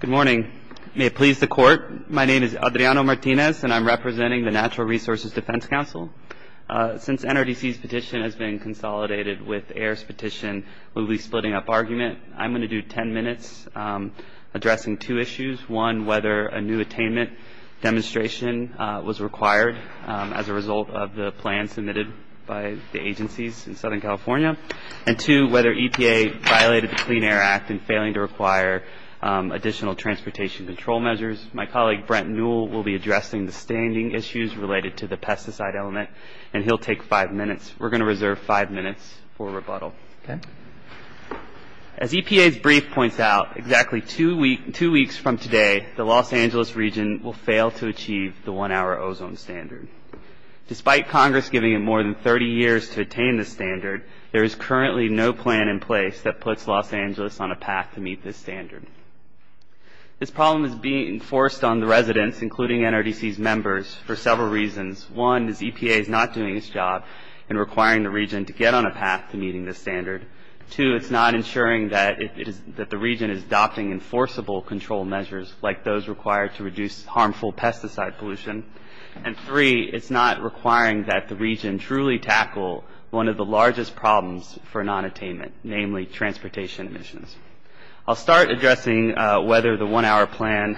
Good morning. May it please the court, my name is Adriano Martinez and I'm representing the Natural Resources Defense Council. Since NRDC's petition has been consolidated with AIR's petition, we'll be splitting up argument. I'm going to do ten minutes addressing two issues. One, whether a new attainment demonstration was required as a result of the plan submitted by the agencies in Southern California. And two, whether EPA violated the Clean Air Act in failing to require additional transportation control measures. My colleague Brent Newell will be addressing the standing issues related to the pesticide element and he'll take five minutes. We're going to reserve five minutes for rebuttal. As EPA's brief points out, exactly two weeks from today, the Los Angeles region will fail to achieve the one-hour ozone standard. Despite Congress giving it more than 30 years to attain this standard, there is currently no plan in place that puts Los Angeles on a path to meet this standard. This problem is being forced on the residents, including NRDC's members, for several reasons. One, is EPA is not doing its job in requiring the region to get on a path to meeting this standard. Two, it's not ensuring that the region is adopting enforceable control measures like those required to reduce harmful pesticide pollution. And three, it's not requiring that the region truly tackle one of the largest problems for non-attainment, namely transportation emissions. I'll start addressing whether the one-hour plan,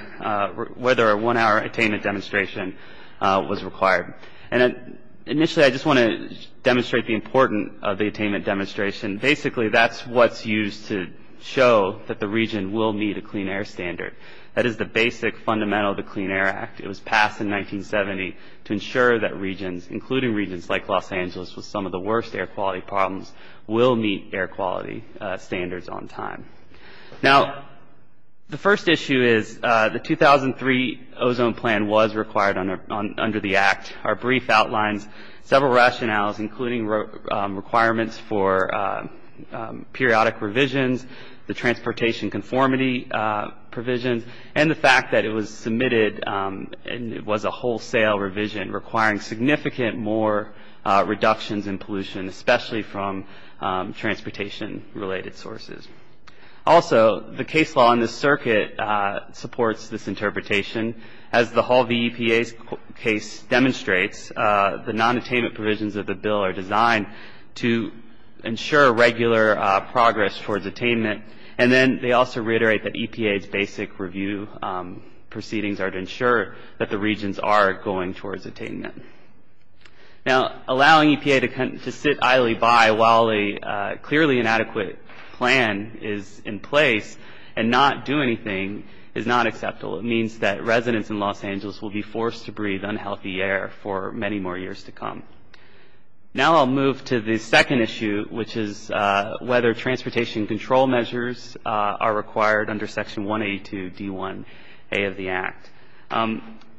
whether a one-hour attainment demonstration was required. And initially, I just want to demonstrate the importance of the attainment demonstration. Basically, that's what's used to show that the region will meet a clean air standard. That is the basic fundamental of the Clean Air Act. It was passed in 1970 to ensure that regions, including regions like Los Angeles with some of the worst air quality problems, will meet air quality standards on time. Now, the first issue is the 2003 ozone plan was required under the Act. Our brief outlines several rationales, including requirements for periodic revisions, the transportation conformity provisions, and the fact that it was submitted and it was a wholesale revision requiring significant more reductions in pollution, especially from transportation-related sources. Also, the case law in this circuit supports this interpretation. As the Hall v. EPA's case demonstrates, the non-attainment provisions of the bill are designed to ensure regular progress towards attainment. And then they also reiterate that EPA's basic review proceedings are to ensure that the regions are going towards attainment. Now, allowing EPA to sit idly by while a clearly inadequate plan is in place and not do anything is not acceptable. It means that residents in Los Angeles will be forced to breathe unhealthy air for many more years to come. Now I'll move to the second issue, which is whether transportation control measures are required under Section 182 D1A of the Act.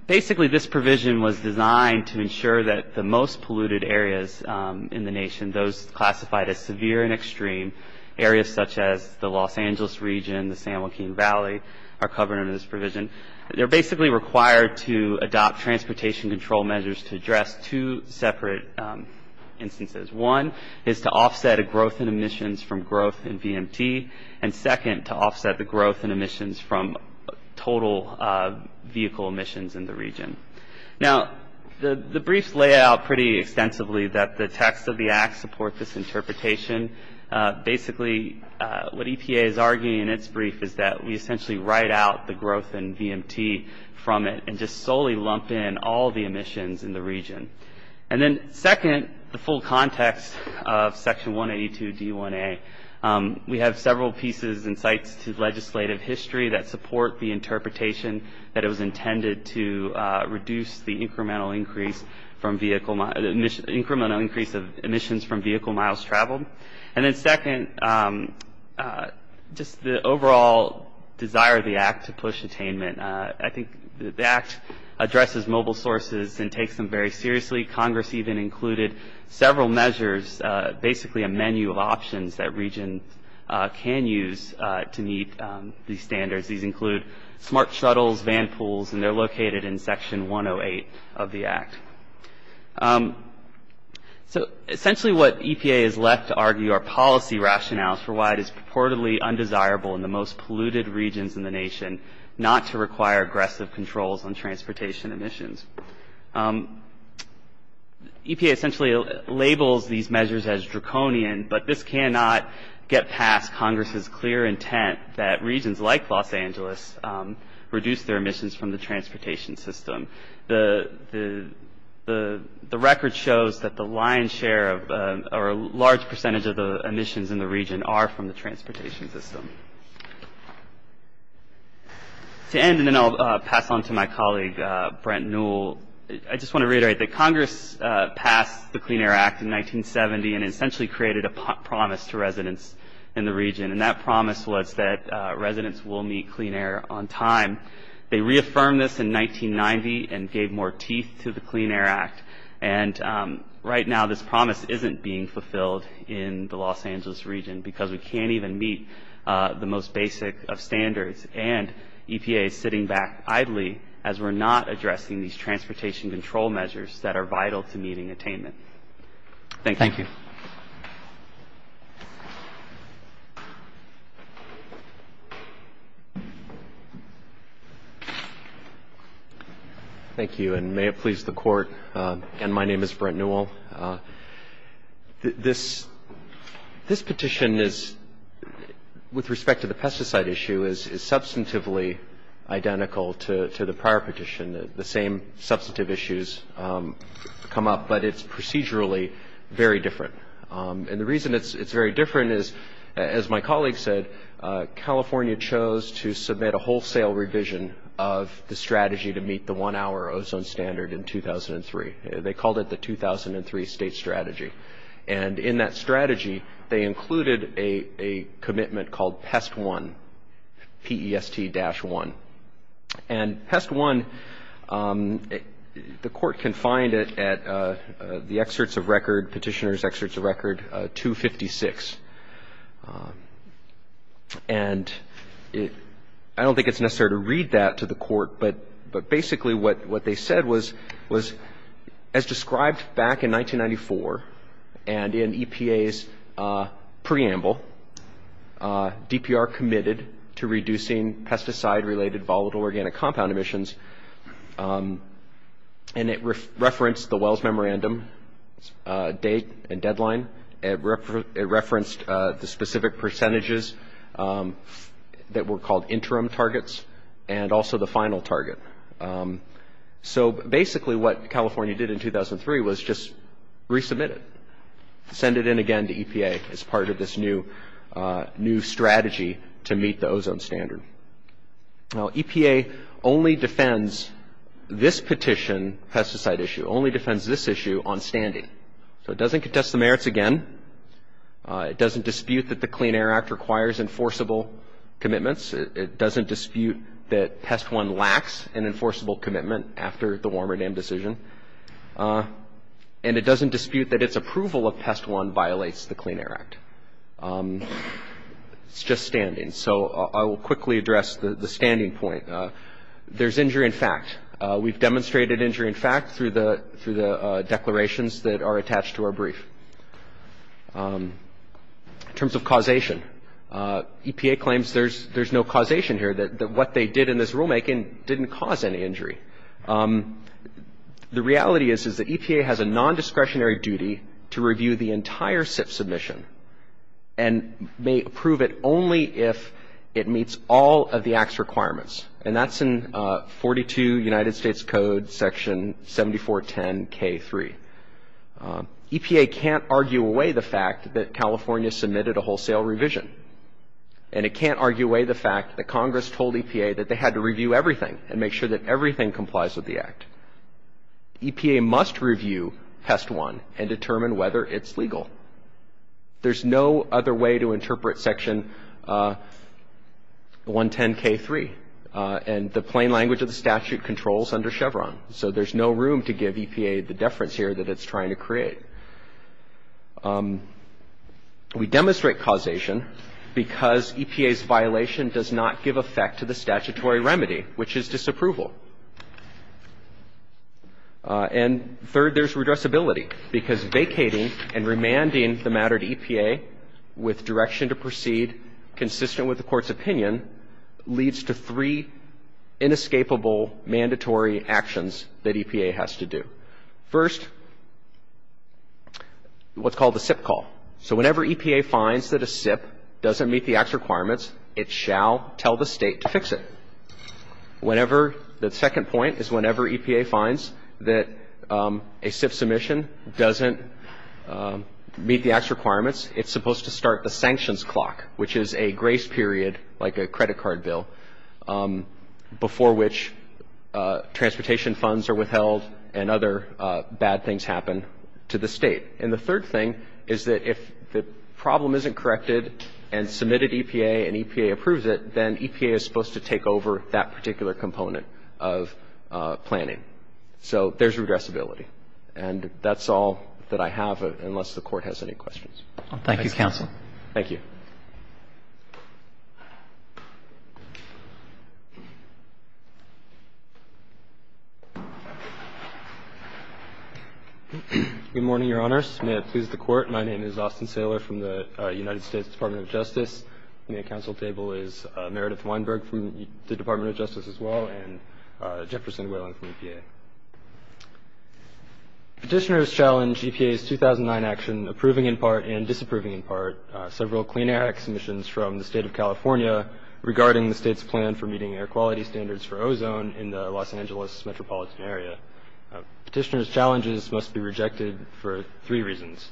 Basically, this provision was designed to ensure that the most polluted areas in the nation, those classified as severe and extreme areas such as the Los Angeles region, the San Joaquin Valley, are covered under this provision. They're basically required to adopt transportation control measures to address two separate instances. One is to offset a growth in emissions from growth in VMT, and second, to offset the growth in emissions from total vehicle emissions in the region. Now, the briefs lay out pretty extensively that the text of the Act supports this interpretation. Basically, what EPA is arguing in its brief is that we essentially write out the growth in VMT from it and just solely lump in all the emissions in the region. And then second, the full context of Section 182 D1A, we have several pieces and sites to legislative history that support the interpretation that it was intended to reduce the incremental increase of emissions from vehicle miles traveled. And then second, just the overall desire of the Act to push attainment. I think the Act addresses mobile sources and takes them very seriously. Congress even included several measures, basically a menu of options that regions can use to meet these standards. These include smart shuttles, vanpools, and they're located in Section 108 of the Act. So essentially what EPA is left to argue are policy rationales for why it is purportedly undesirable in the most polluted regions in the nation not to require aggressive controls on transportation emissions. EPA essentially labels these measures as draconian, but this cannot get past Congress's clear intent that regions like Los Angeles reduce their emissions from the transportation system. The record shows that the lion's share or a large percentage of the emissions in the region are from the transportation system. To end, and then I'll pass on to my colleague Brent Newell, I just want to reiterate that Congress passed the Clean Air Act in 1970 and essentially created a promise to residents in the region. And that promise was that residents will meet clean air on time. They reaffirmed this in 1990 and gave more teeth to the Clean Air Act. And right now this promise isn't being fulfilled in the Los Angeles region because we can't even meet the most basic of standards. And EPA is sitting back idly as we're not addressing these transportation control measures that are vital to meeting attainment. Thank you. Thank you. Thank you, and may it please the Court. And my name is Brent Newell. This petition is, with respect to the pesticide issue, is substantively identical to the prior petition. The same substantive issues come up, but it's procedurally very different. And the reason it's very different is, as my colleague said, California chose to submit a wholesale revision of the strategy to meet the one-hour ozone standard in 2003. They called it the 2003 State Strategy. And in that strategy they included a commitment called PEST-1, P-E-S-T-1. And PEST-1, the Court can find it at the Petitioner's Excerpts of Record 256. And I don't think it's necessary to read that to the Court, but basically what they said was, as described back in 1994 and in EPA's preamble, DPR committed to reducing pesticide-related volatile organic compound emissions. And it referenced the Wells Memorandum date and deadline. It referenced the specific percentages that were called interim targets and also the final target. So basically what California did in 2003 was just resubmit it, send it in again to EPA as part of this new strategy to meet the ozone standard. Now, EPA only defends this petition, pesticide issue, only defends this issue on standing. So it doesn't contest the merits again. It doesn't dispute that the Clean Air Act requires enforceable commitments. It doesn't dispute that PEST-1 lacks an enforceable commitment after the Warmer Dam decision. And it doesn't dispute that its approval of PEST-1 violates the Clean Air Act. It's just standing. So I will quickly address the standing point. There's injury in fact. We've demonstrated injury in fact through the declarations that are attached to our brief. In terms of causation, EPA claims there's no causation here, that what they did in this rulemaking didn't cause any injury. The reality is that EPA has a nondiscretionary duty to review the entire SIF submission and may approve it only if it meets all of the Act's requirements. And that's in 42 United States Code, Section 7410K3. EPA can't argue away the fact that California submitted a wholesale revision. And it can't argue away the fact that Congress told EPA that they had to review everything and make sure that everything complies with the Act. EPA must review PEST-1 and determine whether it's legal. There's no other way to interpret Section 110K3. And the plain language of the statute controls under Chevron. So there's no room to give EPA the deference here that it's trying to create. We demonstrate causation because EPA's violation does not give effect to the statutory remedy, which is disapproval. And third, there's redressability. Because vacating and remanding the matter to EPA with direction to proceed, consistent with the Court's opinion, leads to three inescapable mandatory actions that EPA has to do. First, what's called the SIP call. So whenever EPA finds that a SIP doesn't meet the Act's requirements, it shall tell the State to fix it. Whenever the second point is whenever EPA finds that a SIP submission doesn't meet the Act's requirements, it's supposed to start the sanctions clock, which is a grace period, like a credit card bill, before which transportation funds are withheld and other bad things happen to the State. And the third thing is that if the problem isn't corrected and submitted EPA and EPA approves it, then EPA is supposed to take over that particular component of planning. So there's redressability. And that's all that I have, unless the Court has any questions. Thank you, Counsel. Thank you. Good morning, Your Honors. May it please the Court. My name is Austin Saylor from the United States Department of Justice. At the Council table is Meredith Weinberg from the Department of Justice as well, and Jefferson Whalen from EPA. Petitioners challenge EPA's 2009 action, approving in part and disapproving in part, several Clean Air Act submissions from the State of California regarding the State's plan for meeting air quality standards for ozone in the Los Angeles metropolitan area. Petitioners' challenges must be rejected for three reasons.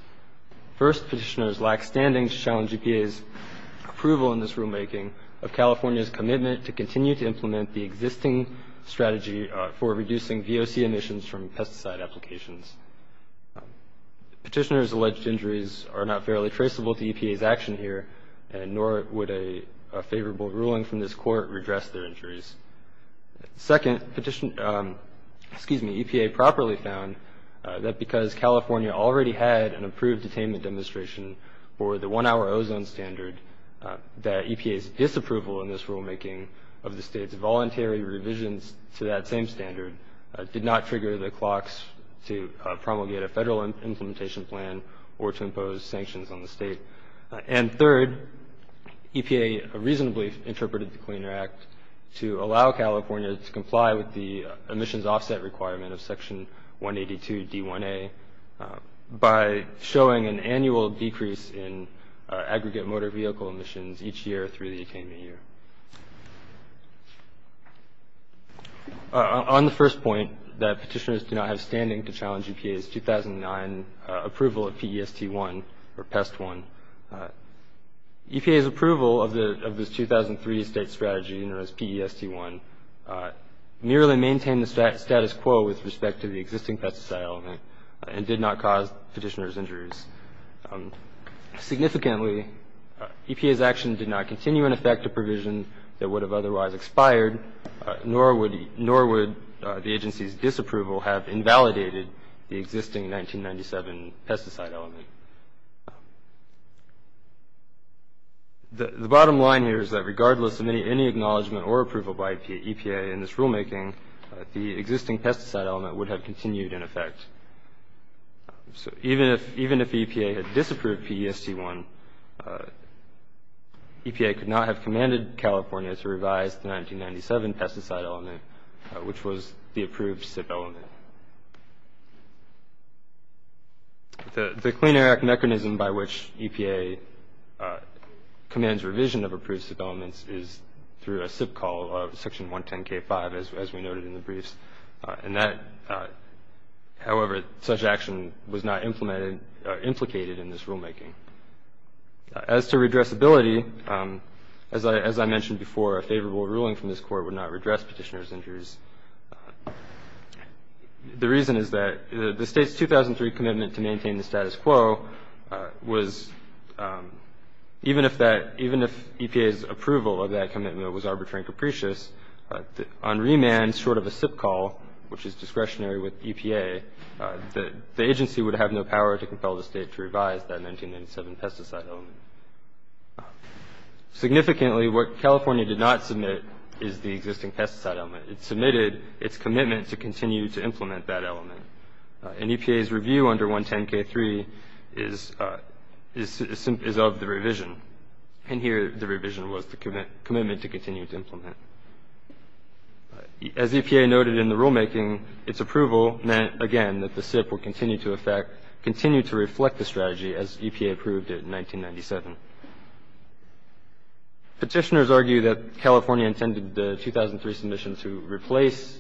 First, petitioners lack standing to challenge EPA's approval in this rulemaking of California's commitment to continue to implement the existing strategy for reducing VOC emissions from pesticide applications. Petitioners' alleged injuries are not fairly traceable to EPA's action here, and nor would a favorable ruling from this Court redress their injuries. Second, EPA properly found that because California already had an approved attainment demonstration for the one-hour ozone standard, that EPA's disapproval in this rulemaking of the State's voluntary revisions to that same standard did not trigger the clocks to promulgate a federal implementation plan or to impose sanctions on the State. And third, EPA reasonably interpreted the Clean Air Act to allow California to comply with the emissions offset requirement of Section 182 D1A by showing an annual decrease in aggregate motor vehicle emissions each year through the attainment year. On the first point, that petitioners do not have standing to challenge EPA's 2009 approval of PEST-1, EPA's approval of this 2003 State strategy, PEST-1, merely maintained the status quo with respect to the existing pesticide element and did not cause petitioners' injuries. Significantly, EPA's action did not continue in effect a provision that would have otherwise expired, nor would the agency's disapproval have invalidated the existing 1997 pesticide element. The bottom line here is that regardless of any acknowledgment or approval by EPA in this rulemaking, the existing pesticide element would have continued in effect. So even if EPA had disapproved PEST-1, EPA could not have commanded California to revise the 1997 pesticide element, which was the approved SIP element. The Clean Air Act mechanism by which EPA commands revision of approved SIP elements is through a SIP call of Section 110 K5, as we noted in the briefs. However, such action was not implicated in this rulemaking. As to redressability, as I mentioned before, a favorable ruling from this Court would not redress petitioners' injuries. The reason is that the State's 2003 commitment to maintain the status quo was, even if EPA's approval of that commitment was arbitrary and capricious, on remand, short of a SIP call, which is discretionary with EPA, the agency would have no power to compel the State to revise that 1997 pesticide element. Significantly, what California did not submit is the existing pesticide element. It submitted its commitment to continue to implement that element. And EPA's review under 110 K3 is of the revision. And here the revision was the commitment to continue to implement. As EPA noted in the rulemaking, its approval meant, again, that the SIP would continue to reflect the strategy as EPA approved it in 1997. Petitioners argue that California intended the 2003 submission to replace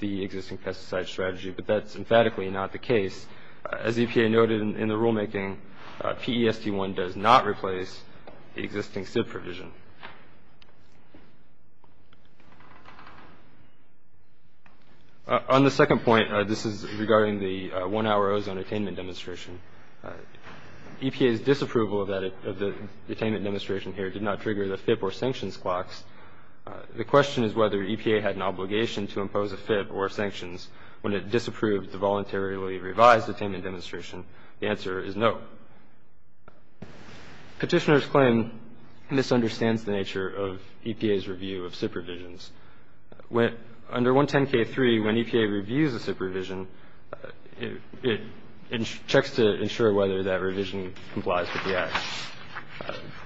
the existing pesticide strategy, but that's emphatically not the case. As EPA noted in the rulemaking, PEST-1 does not replace the existing SIP provision. On the second point, this is regarding the one-hour ozone attainment demonstration. EPA's disapproval of the attainment demonstration here did not trigger the FIP or sanctions clocks. The question is whether EPA had an obligation to impose a FIP or sanctions when it disapproved the voluntarily revised attainment demonstration. The answer is no. Petitioners' claim misunderstands the nature of EPA's review of SIP revisions. Under 110 K3, when EPA reviews a SIP revision, it checks to ensure whether that revision complies with the act.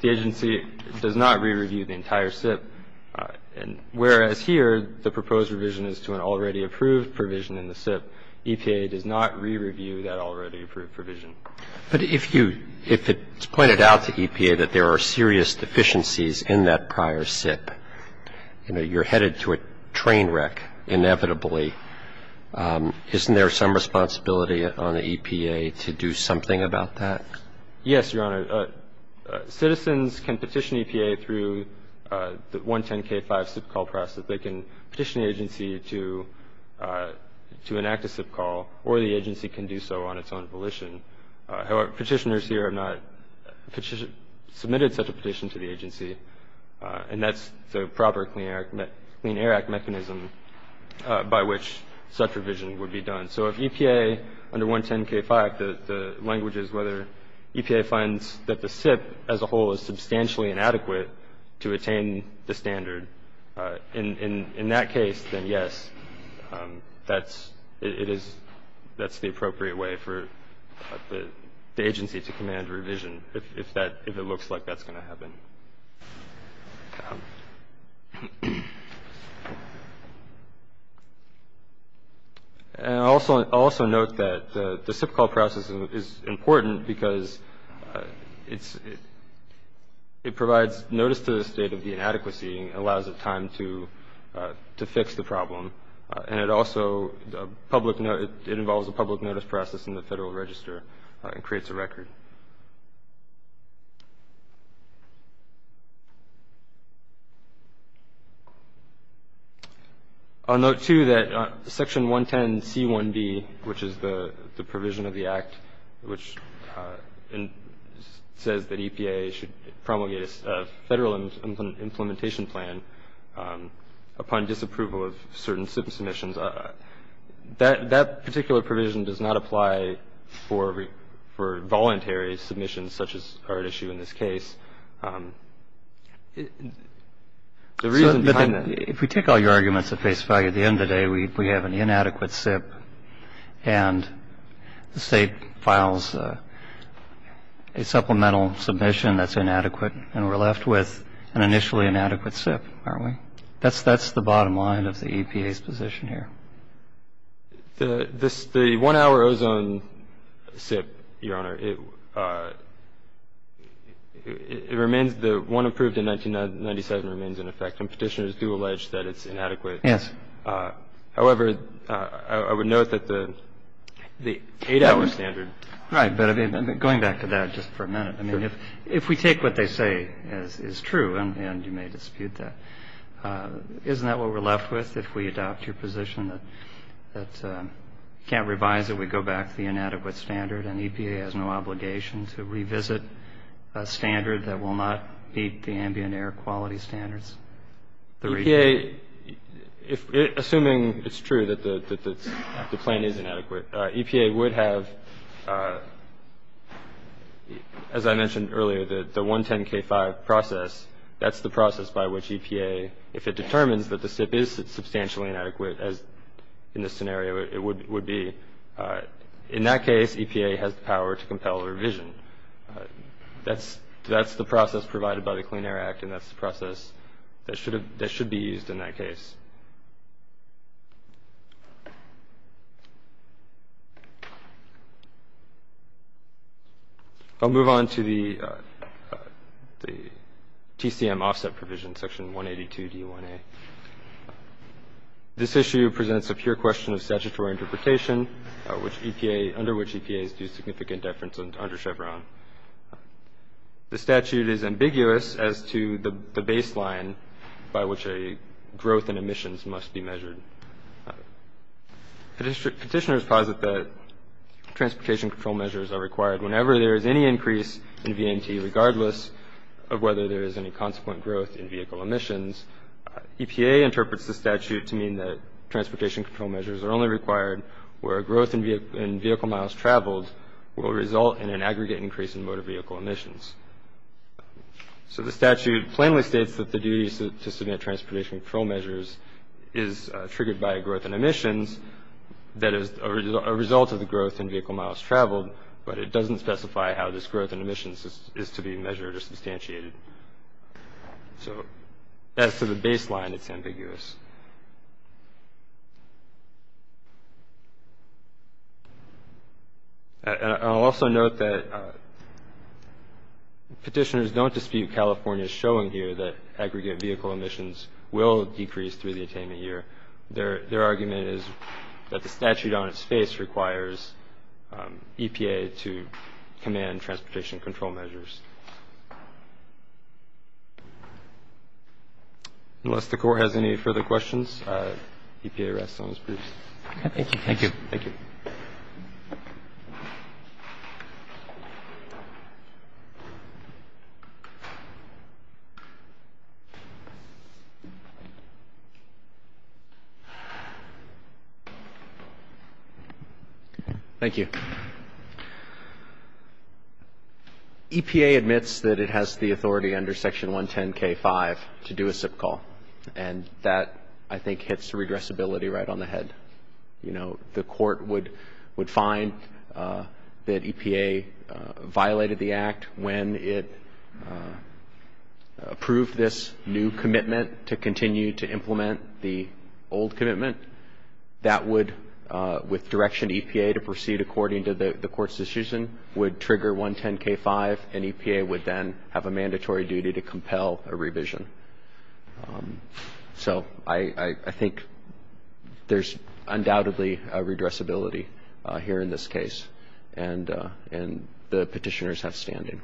The agency does not re-review the entire SIP, and whereas here the proposed revision is to an already approved provision in the SIP, EPA does not re-review that already approved provision. But if it's pointed out to EPA that there are serious deficiencies in that prior SIP, you know, you're headed to a train wreck inevitably, isn't there some responsibility on the EPA to do something about that? Yes, Your Honor. Citizens can petition EPA through the 110 K5 SIP call process. They can petition the agency to enact a SIP call, or the agency can do so on its own volition. However, petitioners here have not submitted such a petition to the agency, and that's the proper Clean Air Act mechanism by which such revision would be done. So if EPA, under 110 K5, the language is whether EPA finds that the SIP as a whole is substantially inadequate to attain the standard, in that case, then yes, that's the appropriate way for the agency to command a revision if it looks like that's going to happen. And I'll also note that the SIP call process is important because it provides notice to the state of the inadequacy and allows it time to fix the problem. And it also involves a public notice process in the Federal Register and creates a record. I'll note, too, that Section 110 C1b, which is the provision of the Act, which says that EPA should promulgate a federal implementation plan upon disapproval of certain SIP submissions, that particular provision does not apply for voluntary submissions such as are at issue in this case. The reason behind that — So if we take all your arguments at face value, at the end of the day, we have an inadequate SIP and the state files a supplemental submission that's inadequate and we're left with an initially inadequate SIP, aren't we? That's the bottom line of the EPA's position here. The one-hour ozone SIP, Your Honor, it remains — the one approved in 1997 remains in effect, and Petitioners do allege that it's inadequate. Yes. However, I would note that the eight-hour standard — Right, but going back to that just for a minute. I mean, if we take what they say is true, and you may dispute that, isn't that what we're left with if we adopt your position that we can't revise it, we go back to the inadequate standard, and EPA has no obligation to revisit a standard that will not meet the ambient air quality standards? EPA, assuming it's true that the plan is inadequate, EPA would have, as I mentioned earlier, the 110-K-5 process. That's the process by which EPA, if it determines that the SIP is substantially inadequate, as in this scenario it would be, in that case, EPA has the power to compel a revision. That's the process provided by the Clean Air Act, and that's the process that should be used in that case. I'll move on to the TCM offset provision, section 182D1A. This issue presents a pure question of statutory interpretation, under which EPA is due significant deference under Chevron. The statute is ambiguous as to the baseline by which a growth in emissions must be measured. Petitioners posit that transportation control measures are required whenever there is any increase in VMT, regardless of whether there is any consequent growth in vehicle emissions. EPA interprets the statute to mean that transportation control measures are only required where a growth in vehicle miles traveled will result in an aggregate increase in motor vehicle emissions. So the statute plainly states that the duty to submit transportation control measures is triggered by a growth in emissions that is a result of the growth in vehicle miles traveled, but it doesn't specify how this growth in emissions is to be measured or substantiated. So as to the baseline, it's ambiguous. I'll also note that petitioners don't dispute California's showing here that aggregate vehicle emissions will decrease through the attainment year. Their argument is that the statute on its face requires EPA to command transportation control measures. Unless the Court has any further questions, EPA rests on its briefs. Thank you. Thank you. EPA admits that it has the authority under Section 110K5 to do a SIP call, and that, I think, hits redressability right on the head. You know, the Court would find that EPA violated the Act when it approved this new commitment to continue to implement the SIP call. The old commitment, that would, with direction EPA to proceed according to the Court's decision, would trigger 110K5, and EPA would then have a mandatory duty to compel a revision. So I think there's undoubtedly a redressability here in this case, and the petitioners have standing.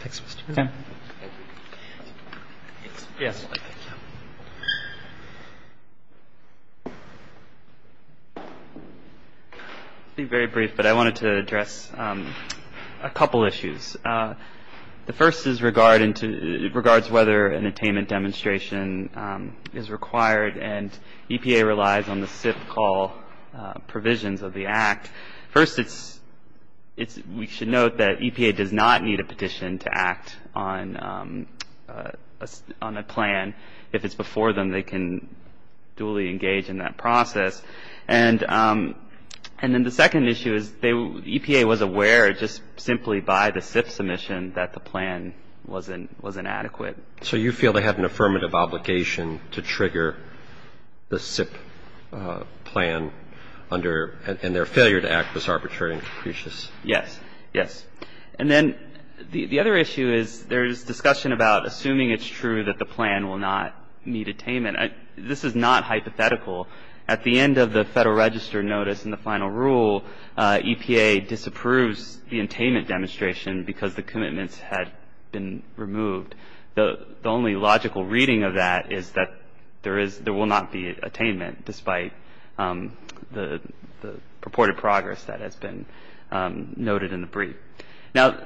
Thanks, Mr. Brown. I'll be very brief, but I wanted to address a couple issues. The first is regards whether an attainment demonstration is required, and EPA relies on the SIP call provisions of the Act. First, we should note that EPA does not need a petition to act on a plan. If it's before them, they can duly engage in that process. And then the second issue is EPA was aware just simply by the SIP submission that the plan was inadequate. So you feel they have an affirmative obligation to trigger the SIP plan under and their failure to act was arbitrary and capricious? Yes, yes. And then the other issue is there's discussion about assuming it's true that the plan will not meet attainment. This is not hypothetical. At the end of the Federal Register notice and the final rule, EPA disapproves the attainment demonstration because the commitments had been removed. The only logical reading of that is that there will not be attainment, despite the purported progress that has been noted in the brief. Now,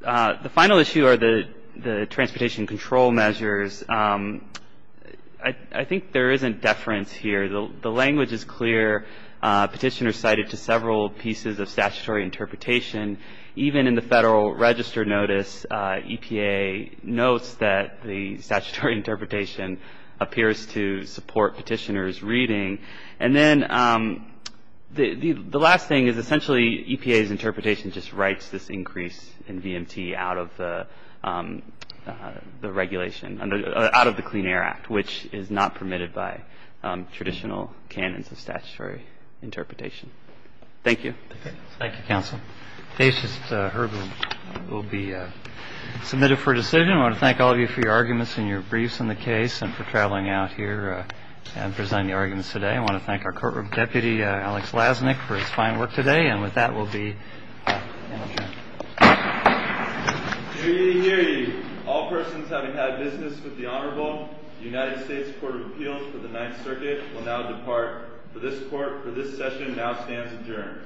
the final issue are the transportation control measures. I think there is a deference here. The language is clear. Petitioners cited to several pieces of statutory interpretation. Even in the Federal Register notice, EPA notes that the statutory interpretation appears to support petitioners' reading. And then the last thing is essentially EPA's interpretation just writes this increase in VMT out of the regulation, out of the Clean Air Act, which is not permitted by traditional canons of statutory interpretation. Thank you. Thank you, counsel. Patient Herb will be submitted for decision. I want to thank all of you for your arguments and your briefs on the case and for traveling out here and presenting the arguments today. I want to thank our courtroom deputy, Alex Lasnik, for his fine work today. And with that, we'll be adjourned. Hear ye, hear ye. All persons having had business with the Honorable, the United States Court of Appeals for the Ninth Circuit will now depart. For this court, for this session, it now stands adjourned.